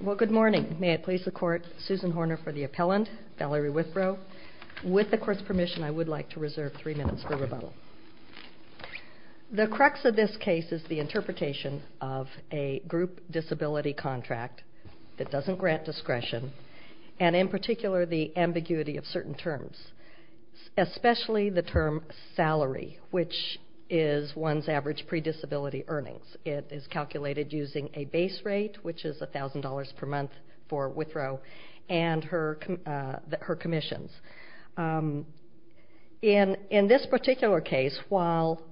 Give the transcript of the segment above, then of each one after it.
Well, good morning. May it please the court, Susan Horner for the appellant, Valerie Withrow. With the court's permission, I would like to reserve three minutes for rebuttal. The crux of this case is the interpretation of a group disability contract that doesn't grant discretion, and in particular the ambiguity of certain terms, especially the term salary, which is one's average pre-disability earnings. It is calculated using a base rate, which is $1,000 per month for Withrow and her commissions. In this particular case, while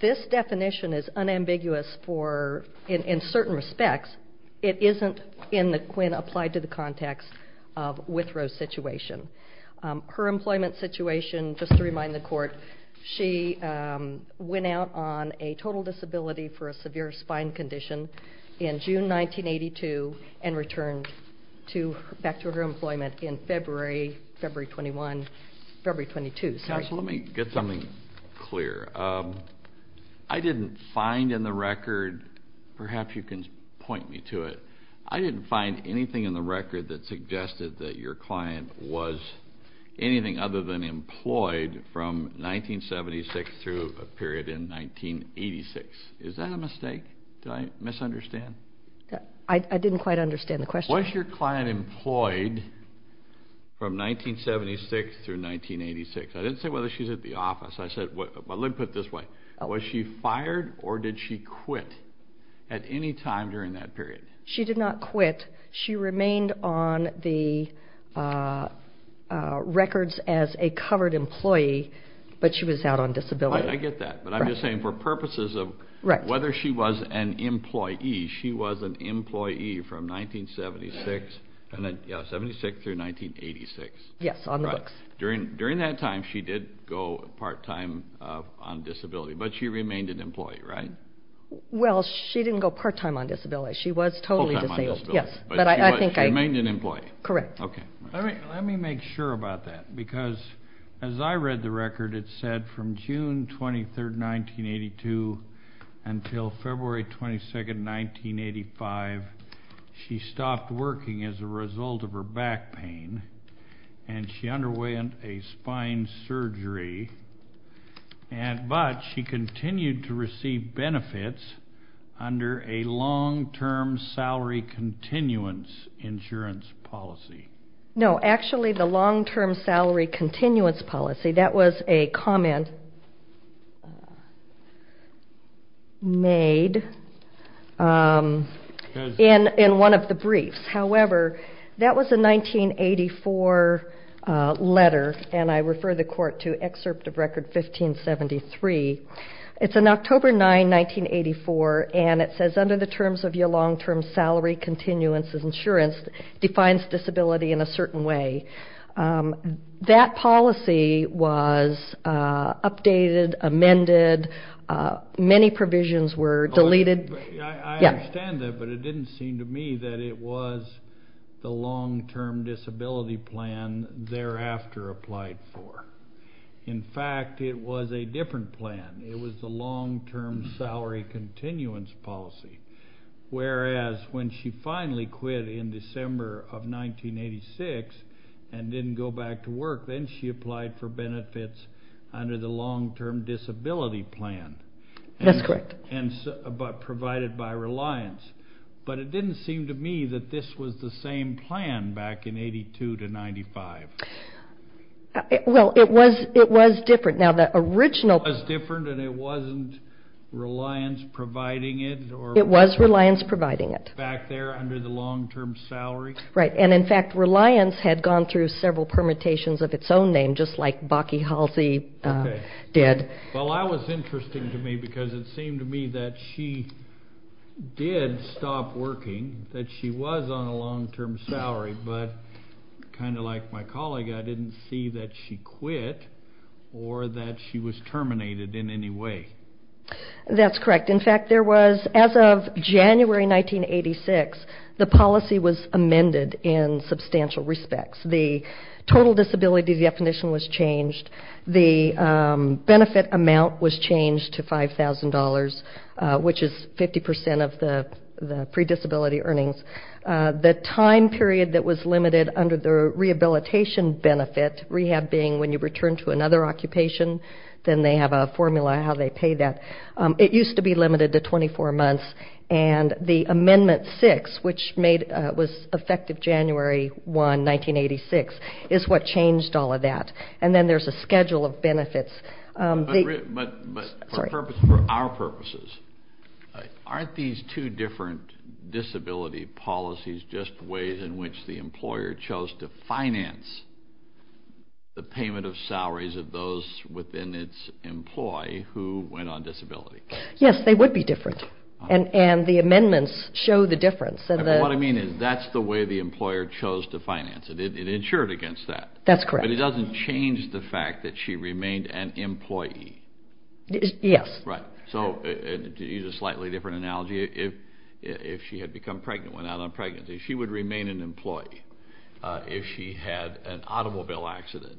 this definition is unambiguous in certain respects, it isn't in the quinn applied to the context of Withrow's situation. Her employment situation, just to remind the court, she went out on a total disability for a severe spine condition in June 1982 and returned back to her employment in February, February 21, February 22. Counsel, let me get something clear. I didn't find in the record, perhaps you can point me to it, I didn't find anything in the record that suggested that your client was anything other than employed from 1976 through a period in 1986. Is that a mistake? Did I misunderstand? I didn't quite understand the question. Was your client employed from 1976 through 1986? I didn't say whether she was at the office. Let me put it this way. Was she fired or did she quit at any time during that period? She did not quit. She remained on the records as a covered employee, but she was out on disability. I get that, but I'm just saying for purposes of whether she was an employee, she was an employee from 1976 through 1986. Yes, on the books. During that time, she did go part-time on disability, but she remained an employee, right? Well, she didn't go part-time on disability. She was totally disabled. Yes. But she remained an employee. Correct. Okay. Let me make sure about that, because as I read the record, it said from June 23rd, 1982 until February 22nd, 1985, she stopped working as a result of her back pain and she underwent a spine surgery, but she continued to receive benefits under a long-term salary continuance insurance policy. No. Actually, the long-term salary continuance policy, that was a comment made in one of the briefs. However, that was a 1984 letter, and I refer the court to excerpt of record 1573. It's on October 9, 1984, and it says, under the terms of your long-term salary continuance insurance defines disability in a certain way. That policy was updated, amended. Many provisions were deleted. I understand that, but it didn't seem to me that it was the long-term disability plan thereafter applied for. In fact, it was a different plan. It was the long-term salary continuance policy, whereas when she finally quit in December of 1986 and didn't go back to work, then she applied for benefits under the long-term disability plan. That's correct. But provided by Reliance. But it didn't seem to me that this was the same plan back in 82 to 95. Well, it was different. Now, the original was different and it wasn't Reliance providing it. It was Reliance providing it. Back there under the long-term salary. Right. And, in fact, Reliance had gone through several permutations of its own name, just like Bakke Halsey did. Well, that was interesting to me because it seemed to me that she did stop working, that she was on a long-term salary, but kind of like my colleague, I didn't see that she quit or that she was terminated in any way. That's correct. In fact, there was, as of January 1986, the policy was amended in substantial respects. The total disability definition was changed. The benefit amount was changed to $5,000, which is 50% of the predisability earnings. The time period that was limited under the rehabilitation benefit, rehab being when you return to another occupation, then they have a formula how they pay that. It used to be limited to 24 months. And the amendment six, which was effective January 1, 1986, is what changed all of that. And then there's a schedule of benefits. But for our purposes, aren't these two different disability policies just ways in which the employer chose to finance the payment of salaries of those within its employee who went on disability? Yes, they would be different. And the amendments show the difference. What I mean is that's the way the employer chose to finance it. It insured against that. That's correct. But it doesn't change the fact that she remained an employee. Yes. Right. So to use a slightly different analogy, if she had become pregnant, went out on pregnancy, she would remain an employee. If she had an automobile accident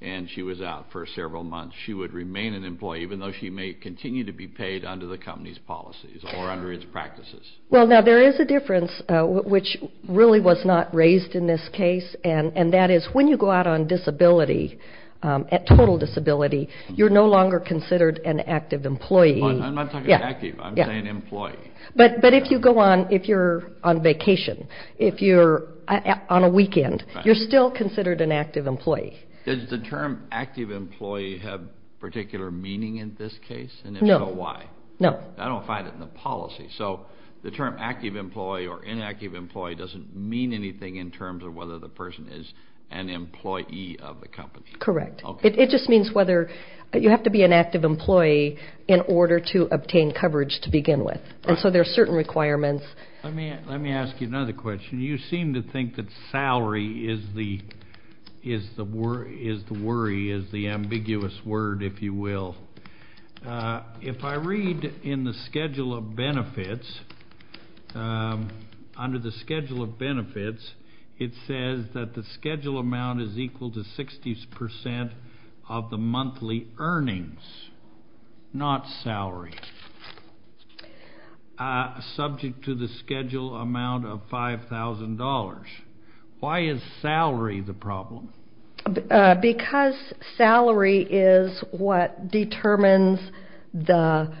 and she was out for several months, she would remain an employee, even though she may continue to be paid under the company's policies or under its practices. Well, now, there is a difference, which really was not raised in this case. And that is when you go out on disability, at total disability, you're no longer considered an active employee. I'm not talking active. I'm saying employee. But if you go on, if you're on vacation, if you're on a weekend, you're still considered an active employee. Does the term active employee have particular meaning in this case? No. And if so, why? No. I don't find it in the policy. So the term active employee or inactive employee doesn't mean anything in terms of whether the person is an employee of the company. Correct. It just means whether you have to be an active employee in order to obtain coverage to begin with. And so there are certain requirements. Let me ask you another question. You seem to think that salary is the worry, is the ambiguous word, if you will. If I read in the schedule of benefits, under the schedule of benefits, it says that the schedule amount is equal to 60 percent of the monthly earnings, not salary, subject to the schedule amount of $5,000. Why is salary the problem? Because salary is what determines the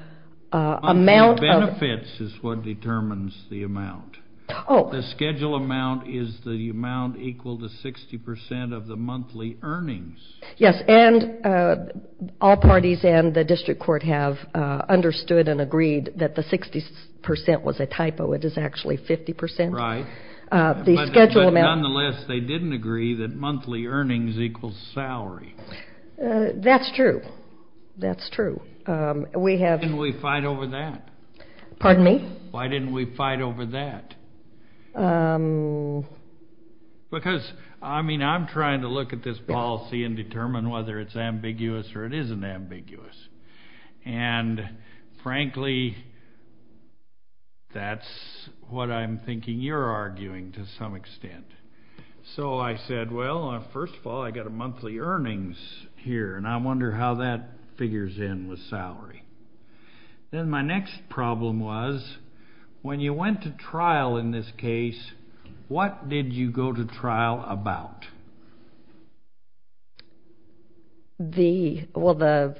amount of. Monthly benefits is what determines the amount. Oh. The schedule amount is the amount equal to 60 percent of the monthly earnings. Yes. And all parties and the district court have understood and agreed that the 60 percent was a typo. It is actually 50 percent. Right. Nonetheless, they didn't agree that monthly earnings equals salary. That's true. That's true. We have. Why didn't we fight over that? Pardon me? Why didn't we fight over that? Because, I mean, I'm trying to look at this policy and determine whether it's ambiguous or it isn't ambiguous. And, frankly, that's what I'm thinking you're arguing to some extent. So I said, well, first of all, I got a monthly earnings here, and I wonder how that figures in with salary. Then my next problem was, when you went to trial in this case, what did you go to trial about? The, well, the,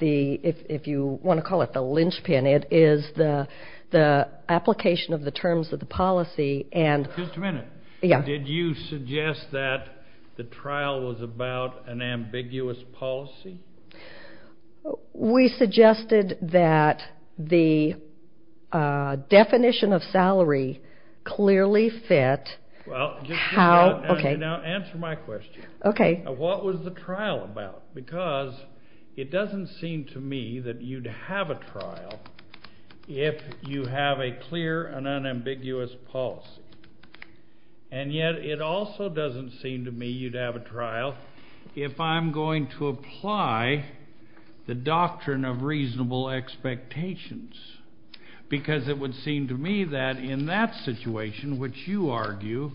if you want to call it the linchpin, it is the application of the terms of the policy and. Just a minute. Yeah. Did you suggest that the trial was about an ambiguous policy? We suggested that the definition of salary clearly fit how. Okay. Now answer my question. Okay. What was the trial about? Because it doesn't seem to me that you'd have a trial if you have a clear and unambiguous policy. And yet it also doesn't seem to me you'd have a trial if I'm going to apply the doctrine of reasonable expectations. Because it would seem to me that in that situation, which you argue,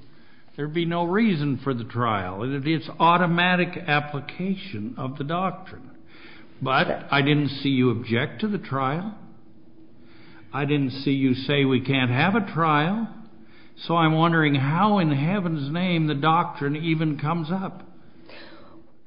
there'd be no reason for the trial. It's automatic application of the doctrine. But I didn't see you object to the trial. I didn't see you say we can't have a trial. So I'm wondering how in heaven's name the doctrine even comes up.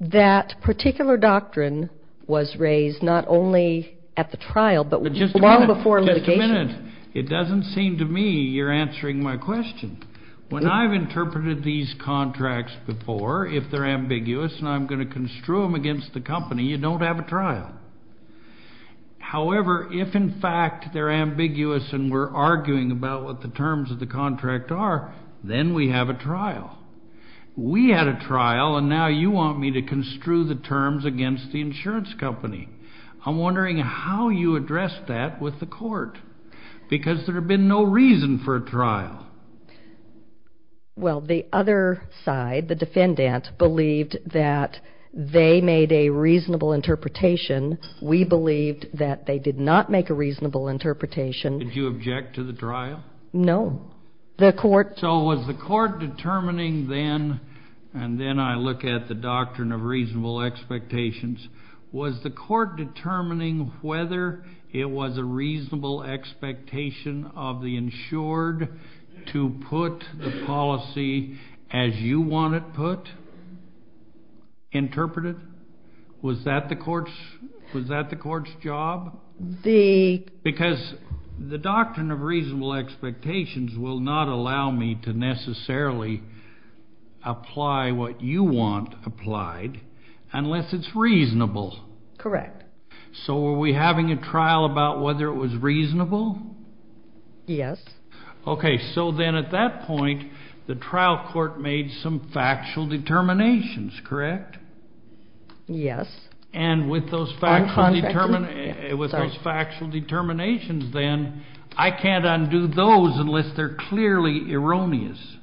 That particular doctrine was raised not only at the trial but long before litigation. Just a minute. It doesn't seem to me you're answering my question. When I've interpreted these contracts before, if they're ambiguous and I'm going to construe them against the company, you don't have a trial. However, if in fact they're ambiguous and we're arguing about what the terms of the contract are, then we have a trial. We had a trial, and now you want me to construe the terms against the insurance company. I'm wondering how you addressed that with the court, because there had been no reason for a trial. Well, the other side, the defendant, believed that they made a reasonable interpretation. We believed that they did not make a reasonable interpretation. Did you object to the trial? No. So was the court determining then, and then I look at the doctrine of reasonable expectations, was the court determining whether it was a reasonable expectation of the insured to put the policy as you want it put, interpreted? Was that the court's job? Because the doctrine of reasonable expectations will not allow me to necessarily apply what you want applied unless it's reasonable. Correct. So were we having a trial about whether it was reasonable? Yes. Okay, so then at that point, the trial court made some factual determinations, correct? Yes. And with those factual determinations then, I can't undo those unless they're clearly erroneous.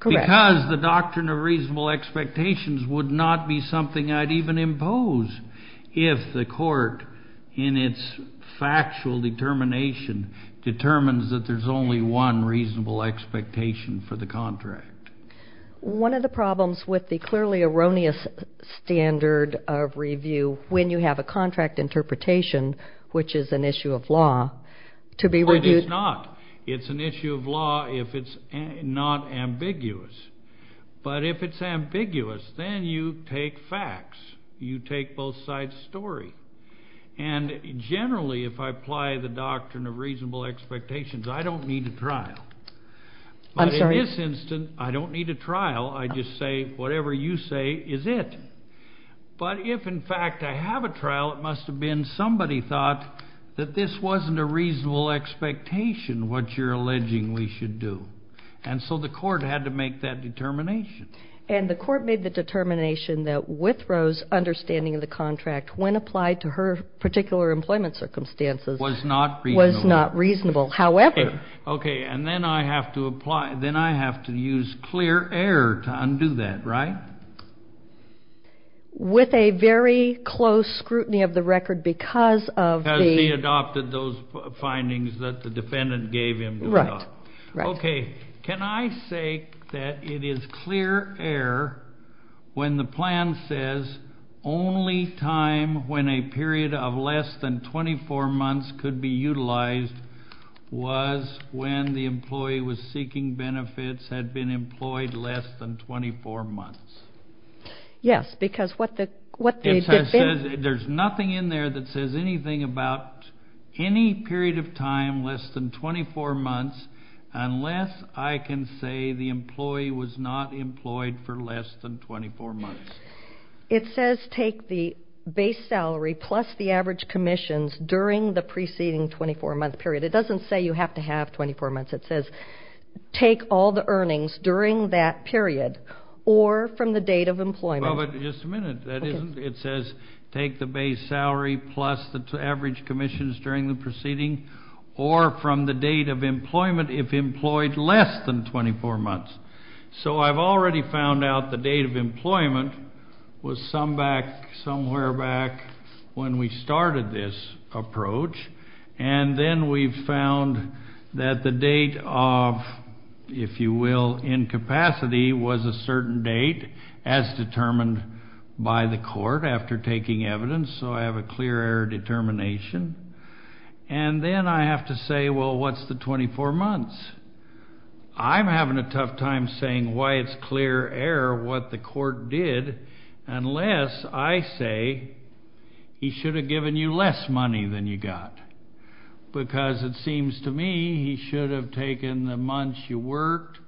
Correct. Because the doctrine of reasonable expectations would not be something I'd even impose if the court, in its factual determination, determines that there's only one reasonable expectation for the contract. One of the problems with the clearly erroneous standard of review when you have a contract interpretation, which is an issue of law, to be reviewed. It is not. It's an issue of law if it's not ambiguous. But if it's ambiguous, then you take facts. You take both sides' story. And generally, if I apply the doctrine of reasonable expectations, I don't need a trial. I'm sorry? In this instance, I don't need a trial. I just say whatever you say is it. But if, in fact, I have a trial, it must have been somebody thought that this wasn't a reasonable expectation, what you're alleging we should do. And so the court had to make that determination. And the court made the determination that Withrow's understanding of the contract, when applied to her particular employment circumstances, was not reasonable. However. Okay. And then I have to apply, then I have to use clear air to undo that, right? With a very close scrutiny of the record because of the. Because she adopted those findings that the defendant gave him to adopt. Right. Okay. Can I say that it is clear air when the plan says only time when a period of less than 24 months could be utilized was when the employee was seeking benefits, had been employed less than 24 months? Yes, because what the. There's nothing in there that says anything about any period of time less than 24 months unless I can say the employee was not employed for less than 24 months. It says take the base salary plus the average commissions during the preceding 24-month period. It doesn't say you have to have 24 months. It says take all the earnings during that period or from the date of employment. Well, but just a minute. That isn't. It says take the base salary plus the average commissions during the proceeding or from the date of employment if employed less than 24 months. So I've already found out the date of employment was somewhere back when we started this approach. And then we've found that the date of, if you will, incapacity was a certain date as determined by the court after taking evidence. So I have a clear air determination. And then I have to say, well, what's the 24 months? I'm having a tough time saying why it's clear air what the court did unless I say he should have given you less money than you got. Because it seems to me he should have taken the months you worked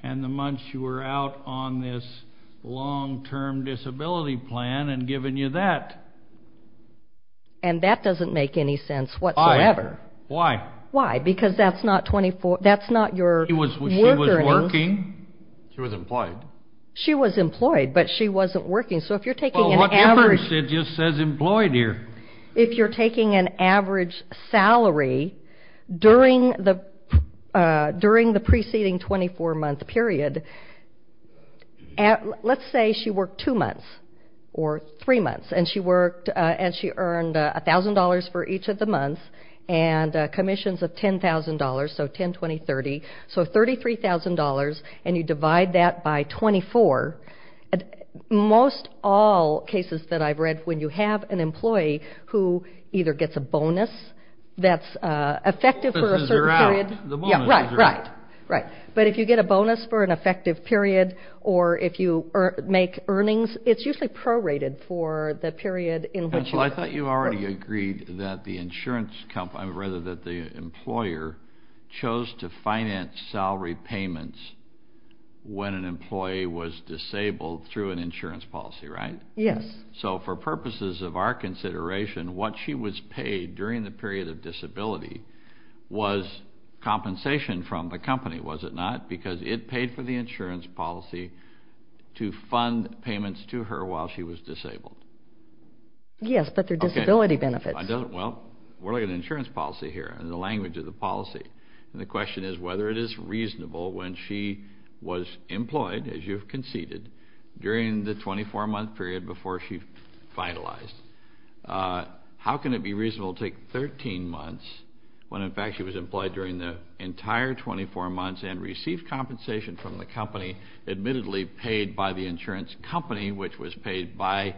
and the months you were out on this long-term disability plan and given you that. And that doesn't make any sense whatsoever. Why? Why? Because that's not 24. That's not your. She was working. She was employed. She was employed, but she wasn't working. So if you're taking an average. Well, what difference? It just says employed here. If you're taking an average salary during the preceding 24-month period, let's say she worked two months or three months, and she earned $1,000 for each of the months and commissions of $10,000, so 10, 20, 30, so $33,000, and you divide that by 24, most all cases that I've read when you have an employee who either gets a bonus that's effective for a certain period. The bonuses are out. Right. Right. But if you get a bonus for an effective period or if you make earnings, it's usually prorated for the period in which you work. Counsel, I thought you already agreed that the insurance company or rather that the employer chose to finance salary payments when an employee was disabled through an insurance policy, right? Yes. So for purposes of our consideration, what she was paid during the period of disability was compensation from the company, was it not? Because it paid for the insurance policy to fund payments to her while she was disabled. Yes, but they're disability benefits. Well, we're looking at an insurance policy here and the language of the policy. And the question is whether it is reasonable when she was employed, as you've conceded, during the 24-month period before she finalized. How can it be reasonable to take 13 months when, in fact, she was employed during the entire 24 months and received compensation from the company, admittedly paid by the insurance company, which was paid by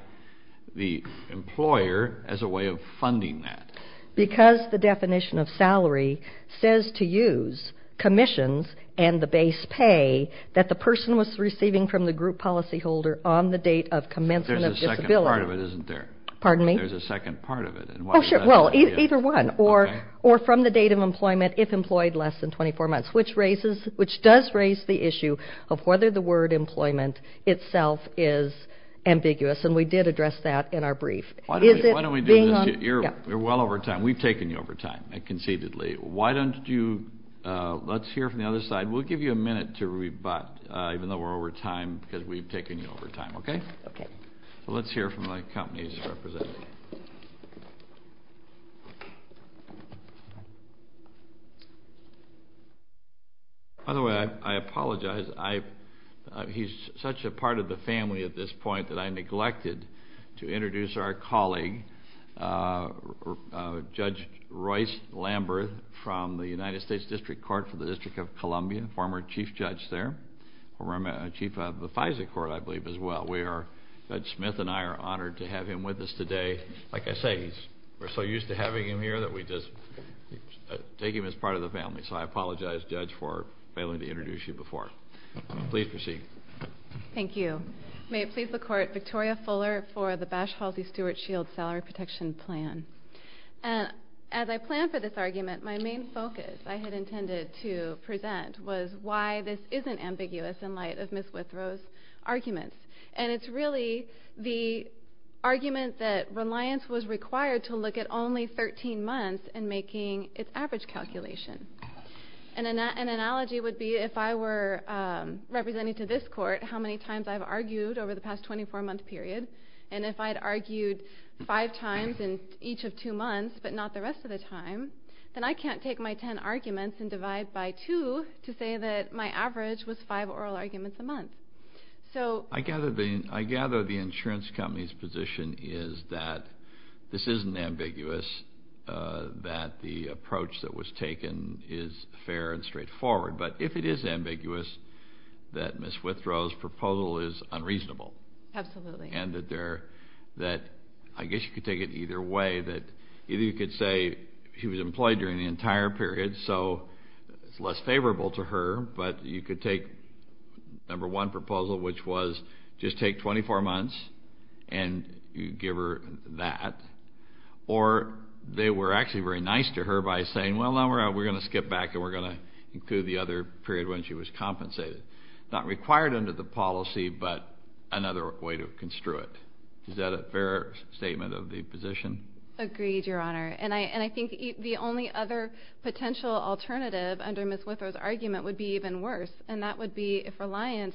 the employer, as a way of funding that? Because the definition of salary says to use commissions and the base pay that the person was receiving from the group policyholder on the date of commencement of disability. There's a second part of it, isn't there? Pardon me? There's a second part of it. Oh, sure. Well, either one. Or from the date of employment, if employed less than 24 months, which raises, which does raise the issue of whether the word employment itself is ambiguous. And we did address that in our brief. Why don't we do this? You're well over time. We've taken you over time, conceitedly. Why don't you let's hear from the other side. We'll give you a minute to rebut, even though we're over time, because we've taken you over time, okay? Okay. So let's hear from the company's representative. By the way, I apologize. He's such a part of the family at this point that I neglected to introduce our colleague, Judge Royce Lambert from the United States District Court for the District of Columbia, former chief judge there, former chief of the FISA court, I believe, as well. Judge Smith and I are honored to have him with us today. Like I say, we're so used to having him here that we just take him as part of the family. So I apologize, Judge, for failing to introduce you before. Please proceed. Thank you. May it please the Court, Victoria Fuller for the Bash Halsey Stewart Shield Salary Protection Plan. As I planned for this argument, my main focus I had intended to present was why this isn't ambiguous in light of Ms. Withrow's arguments. And it's really the argument that reliance was required to look at only 13 months and making its average calculation. And an analogy would be if I were representing to this court how many times I've argued over the past 24-month period, and if I'd argued five times in each of two months but not the rest of the time, then I can't take my ten arguments and divide by two to say that my average was five oral arguments a month. I gather the insurance company's position is that this isn't ambiguous, that the approach that was taken is fair and straightforward. But if it is ambiguous, that Ms. Withrow's proposal is unreasonable. Absolutely. And that I guess you could take it either way. Either you could say she was employed during the entire period, so it's less favorable to her. But you could take number one proposal, which was just take 24 months and give her that. Or they were actually very nice to her by saying, well, now we're going to skip back and we're going to include the other period when she was compensated. Not required under the policy, but another way to construe it. Is that a fair statement of the position? Agreed, Your Honor. And I think the only other potential alternative under Ms. Withrow's argument would be even worse. And that would be if Reliance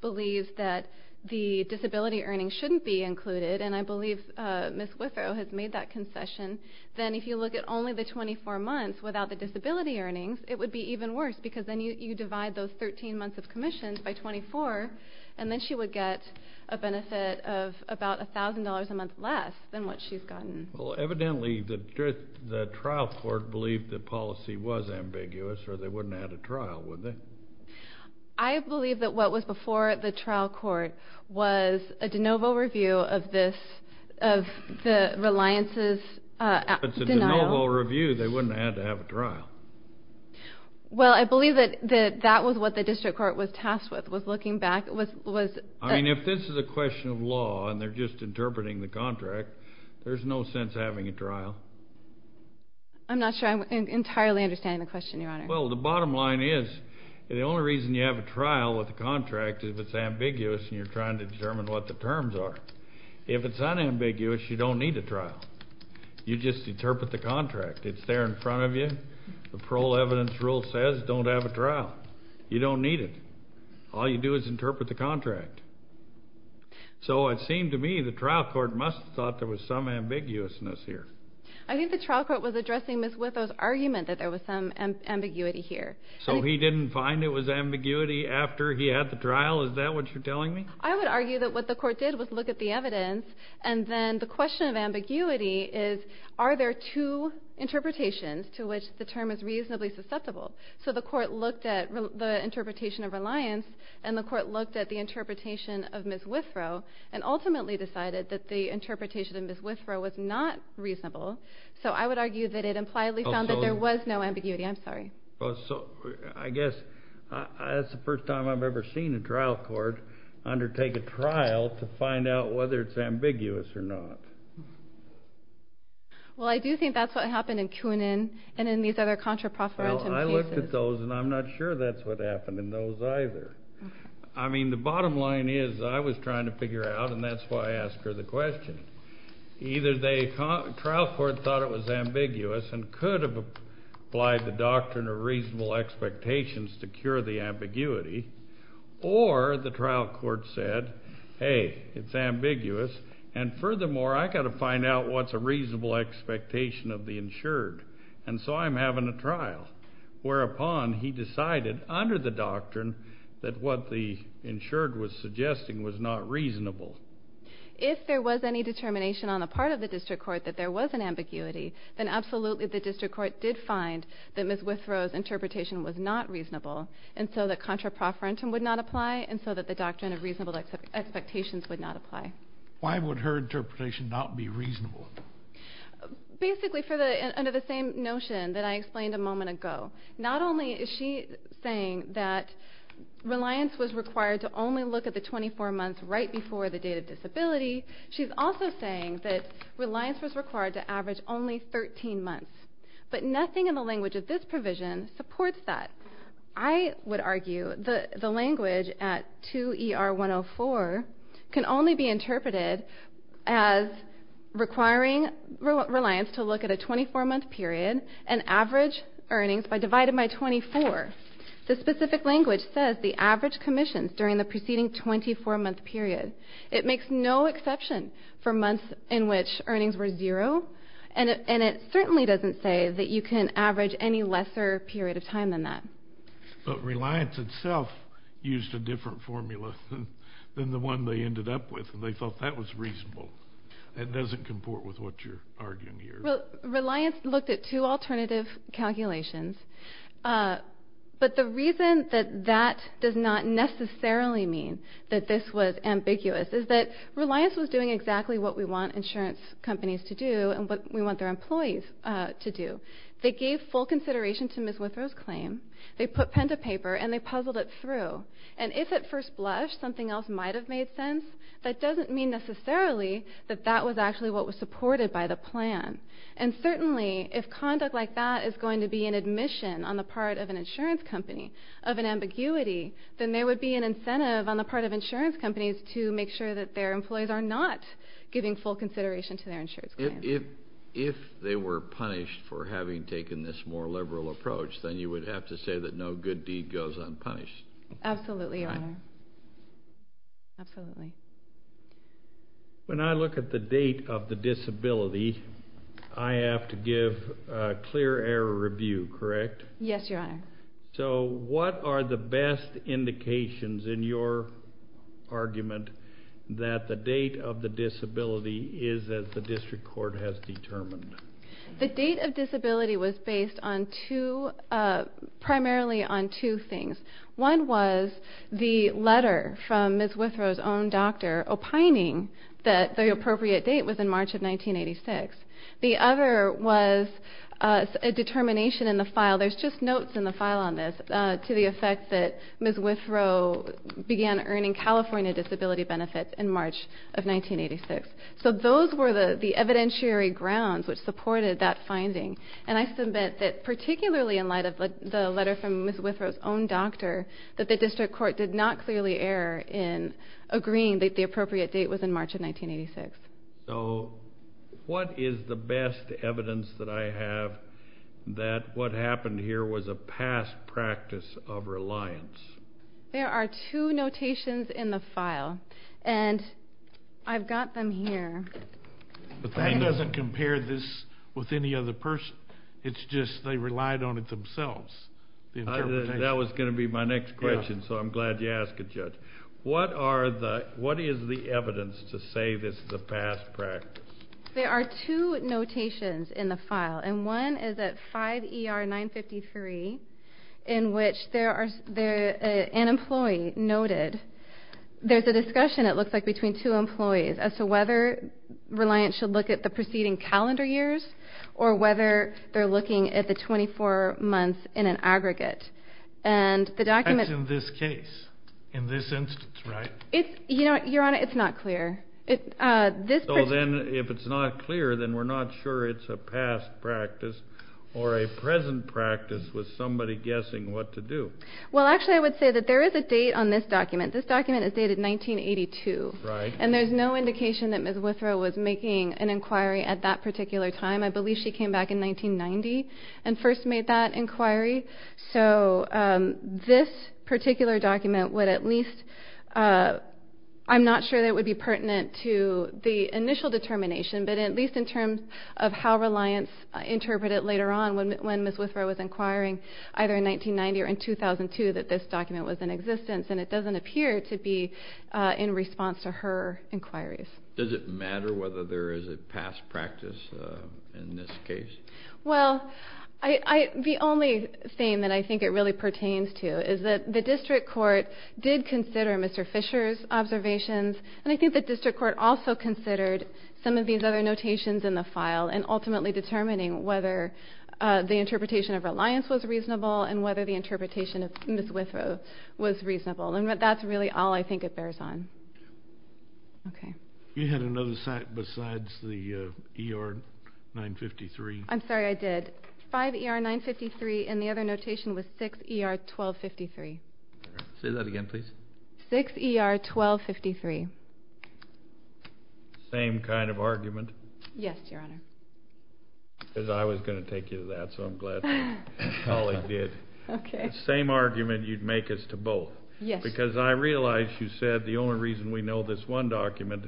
believes that the disability earnings shouldn't be included, and I believe Ms. Withrow has made that concession, then if you look at only the 24 months without the disability earnings, it would be even worse because then you divide those 13 months of commissions by 24, and then she would get a benefit of about $1,000 a month less than what she's gotten. Well, evidently the trial court believed the policy was ambiguous, or they wouldn't have had a trial, would they? I believe that what was before the trial court was a de novo review of the Reliance's denial. It's a de novo review. Well, I believe that that was what the district court was tasked with, was looking back. I mean, if this is a question of law and they're just interpreting the contract, there's no sense having a trial. I'm not sure I entirely understand the question, Your Honor. Well, the bottom line is the only reason you have a trial with a contract is if it's ambiguous and you're trying to determine what the terms are. If it's unambiguous, you don't need a trial. You just interpret the contract. It's there in front of you. The parole evidence rule says don't have a trial. You don't need it. All you do is interpret the contract. So it seemed to me the trial court must have thought there was some ambiguousness here. I think the trial court was addressing Ms. Witho's argument that there was some ambiguity here. So he didn't find it was ambiguity after he had the trial? Is that what you're telling me? I would argue that what the court did was look at the evidence, and then the question of ambiguity is, are there two interpretations to which the term is reasonably susceptible? So the court looked at the interpretation of reliance, and the court looked at the interpretation of Ms. Witho, and ultimately decided that the interpretation of Ms. Witho was not reasonable. So I would argue that it impliedly found that there was no ambiguity. I'm sorry. Well, so I guess that's the first time I've ever seen a trial court undertake a trial to find out whether it's ambiguous or not. Well, I do think that's what happened in Kuhnen and in these other contra profferentum cases. Well, I looked at those, and I'm not sure that's what happened in those either. I mean, the bottom line is I was trying to figure it out, and that's why I asked her the question. Either the trial court thought it was ambiguous and could have applied the doctrine of reasonable expectations to cure the ambiguity, or the trial court said, hey, it's ambiguous, and furthermore, I've got to find out what's a reasonable expectation of the insured, and so I'm having a trial, whereupon he decided under the doctrine that what the insured was suggesting was not reasonable. If there was any determination on the part of the district court that there was an ambiguity, then absolutely the district court did find that Ms. Withrow's interpretation was not reasonable, and so the contra profferentum would not apply, and so the doctrine of reasonable expectations would not apply. Why would her interpretation not be reasonable? Basically, under the same notion that I explained a moment ago. Not only is she saying that reliance was required to only look at the 24 months right before the date of disability, she's also saying that reliance was required to average only 13 months, but nothing in the language of this provision supports that. I would argue that the language at 2ER104 can only be interpreted as requiring reliance to look at a 24-month period and average earnings divided by 24. The specific language says the average commissions during the preceding 24-month period. It makes no exception for months in which earnings were zero, and it certainly doesn't say that you can average any lesser period of time than that. But reliance itself used a different formula than the one they ended up with, and they thought that was reasonable. It doesn't comport with what you're arguing here. Reliance looked at two alternative calculations, but the reason that that does not necessarily mean that this was ambiguous is that reliance was doing exactly what we want insurance companies to do and what we want their employees to do. They gave full consideration to Ms. Withrow's claim, they put pen to paper, and they puzzled it through, and if at first blush something else might have made sense, that doesn't mean necessarily that that was actually what was supported by the plan. And certainly if conduct like that is going to be an admission on the part of an insurance company of an ambiguity, then there would be an incentive on the part of insurance companies to make sure that their employees are not giving full consideration to their insurance plan. If they were punished for having taken this more liberal approach, then you would have to say that no good deed goes unpunished. Absolutely, Your Honor. Absolutely. When I look at the date of the disability, I have to give a clear error review, correct? Yes, Your Honor. So what are the best indications in your argument that the date of the disability is as the district court has determined? The date of disability was based on two, primarily on two things. One was the letter from Ms. Withrow's own doctor opining that the appropriate date was in March of 1986. The other was a determination in the file, there's just notes in the file on this, to the effect that Ms. Withrow began earning California disability benefits in March of 1986. So those were the evidentiary grounds which supported that finding. And I submit that particularly in light of the letter from Ms. Withrow's own doctor, that the district court did not clearly err in agreeing that the appropriate date was in March of 1986. So what is the best evidence that I have that what happened here was a past practice of reliance? There are two notations in the file, and I've got them here. But that doesn't compare this with any other person. It's just they relied on it themselves. That was going to be my next question, so I'm glad you asked it, Judge. What is the evidence to say this is a past practice? There are two notations in the file, and one is at 5 ER 953, in which there is an employee noted. There's a discussion, it looks like, between two employees as to whether reliance should look at the preceding calendar years or whether they're looking at the 24 months in an aggregate. That's in this case, in this instance, right? Your Honor, it's not clear. So then if it's not clear, then we're not sure it's a past practice or a present practice with somebody guessing what to do. Well, actually, I would say that there is a date on this document. This document is dated 1982. And there's no indication that Ms. Withrow was making an inquiry at that particular time. I believe she came back in 1990 and first made that inquiry. So this particular document would at least – I'm not sure that it would be pertinent to the initial determination, but at least in terms of how reliance interpreted later on when Ms. Withrow was inquiring, either in 1990 or in 2002, that this document was in existence. And it doesn't appear to be in response to her inquiries. Does it matter whether there is a past practice in this case? Well, the only thing that I think it really pertains to is that the district court did consider Mr. Fisher's observations, and I think the district court also considered some of these other notations in the file and ultimately determining whether the interpretation of reliance was reasonable and whether the interpretation of Ms. Withrow was reasonable. And that's really all I think it bears on. Okay. You had another site besides the ER 953? I'm sorry, I did. 5 ER 953 and the other notation was 6 ER 1253. 6 ER 1253. Same kind of argument. Yes, Your Honor. Because I was going to take you to that, so I'm glad my colleague did. Okay. The same argument you'd make as to both. Yes. Because I realize you said the only reason we know this one document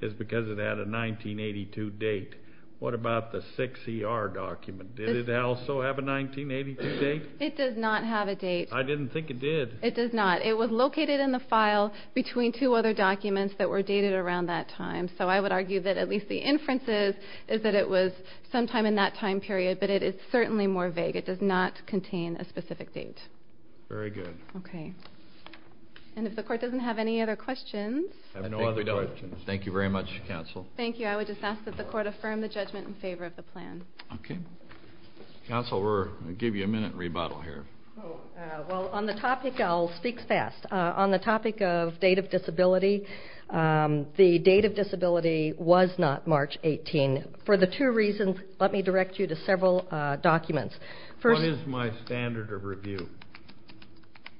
is because it had a 1982 date. What about the 6 ER document? Did it also have a 1982 date? It does not have a date. I didn't think it did. It does not. It was located in the file between two other documents that were dated around that time. So I would argue that at least the inference is that it was sometime in that time period, but it is certainly more vague. It does not contain a specific date. Very good. Okay. And if the Court doesn't have any other questions. I have no other questions. Thank you very much, Counsel. Thank you. I would just ask that the Court affirm the judgment in favor of the plan. Okay. Counsel, we're going to give you a minute rebuttal here. Well, on the topic, I'll speak fast. On the topic of date of disability, the date of disability was not March 18. For the two reasons, let me direct you to several documents. First. What is my standard of review?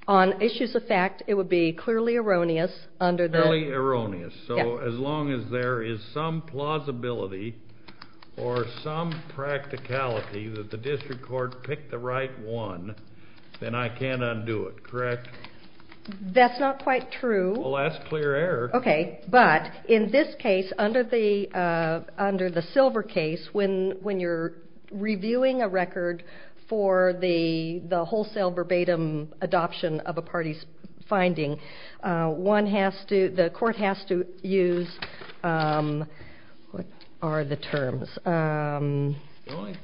On issues of fact, it would be clearly erroneous under the... Clearly erroneous. Yeah. So as long as there is some plausibility or some practicality that the District Court picked the right one, then I can't undo it, correct? That's not quite true. Well, that's clear error. Okay. But in this case, under the silver case, when you're reviewing a record for the wholesale verbatim adoption of a party's finding, one has to... the Court has to use... what are the terms?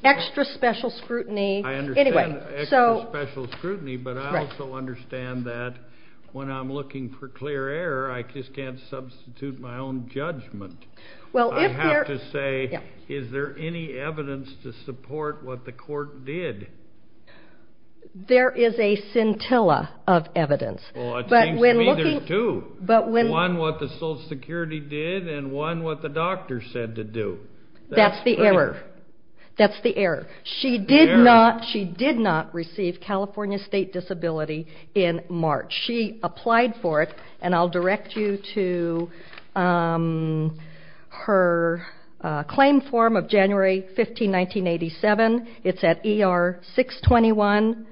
Extra special scrutiny. I understand extra special scrutiny. That's right. But I also understand that when I'm looking for clear error, I just can't substitute my own judgment. Well, if there... I have to say, is there any evidence to support what the Court did? There is a scintilla of evidence. Well, it seems to me there's two. But when... One, what the Social Security did, and one, what the doctor said to do. That's the error. That's clear. That's the error. The error. She did not receive California State Disability in March. She applied for it, and I'll direct you to her claim form of January 15, 1987. It's at ER 621.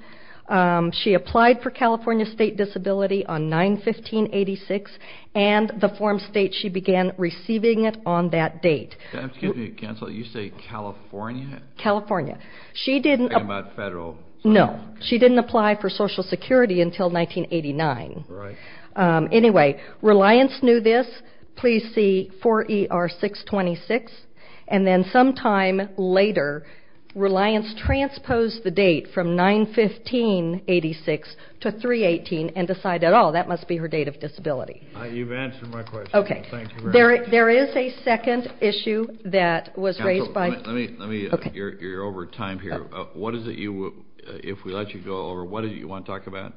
She applied for California State Disability on 9-15-86, and the form states she began receiving it on that date. Excuse me, counsel. You say California? California. She didn't... I'm talking about federal. No. She didn't apply for Social Security until 1989. Right. Anyway, Reliance knew this. Please see 4 ER 626. And then some time later, Reliance transposed the date from 9-15-86 to 3-18 and decided, oh, that must be her date of disability. You've answered my question. Okay. Thank you very much. There is a second issue that was raised by... You're over time here. If we let you go over, what is it you want to talk about?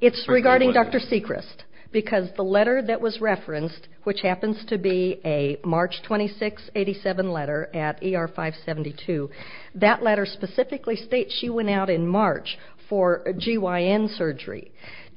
It's regarding Dr. Sechrist because the letter that was referenced, which happens to be a March 26-87 letter at ER 572, that letter specifically states she went out in March for GYN surgery.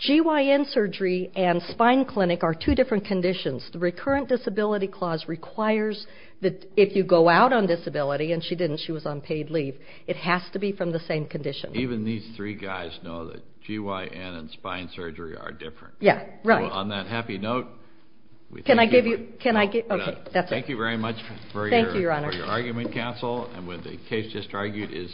GYN surgery and spine clinic are two different conditions. The recurrent disability clause requires that if you go out on disability, and she didn't... She was on paid leave. It has to be from the same condition. Even these three guys know that GYN and spine surgery are different. Yeah. Right. On that happy note... Can I give you... Can I give... Okay. That's it. Thank you very much. For your argument, counsel. And what the case just argued is...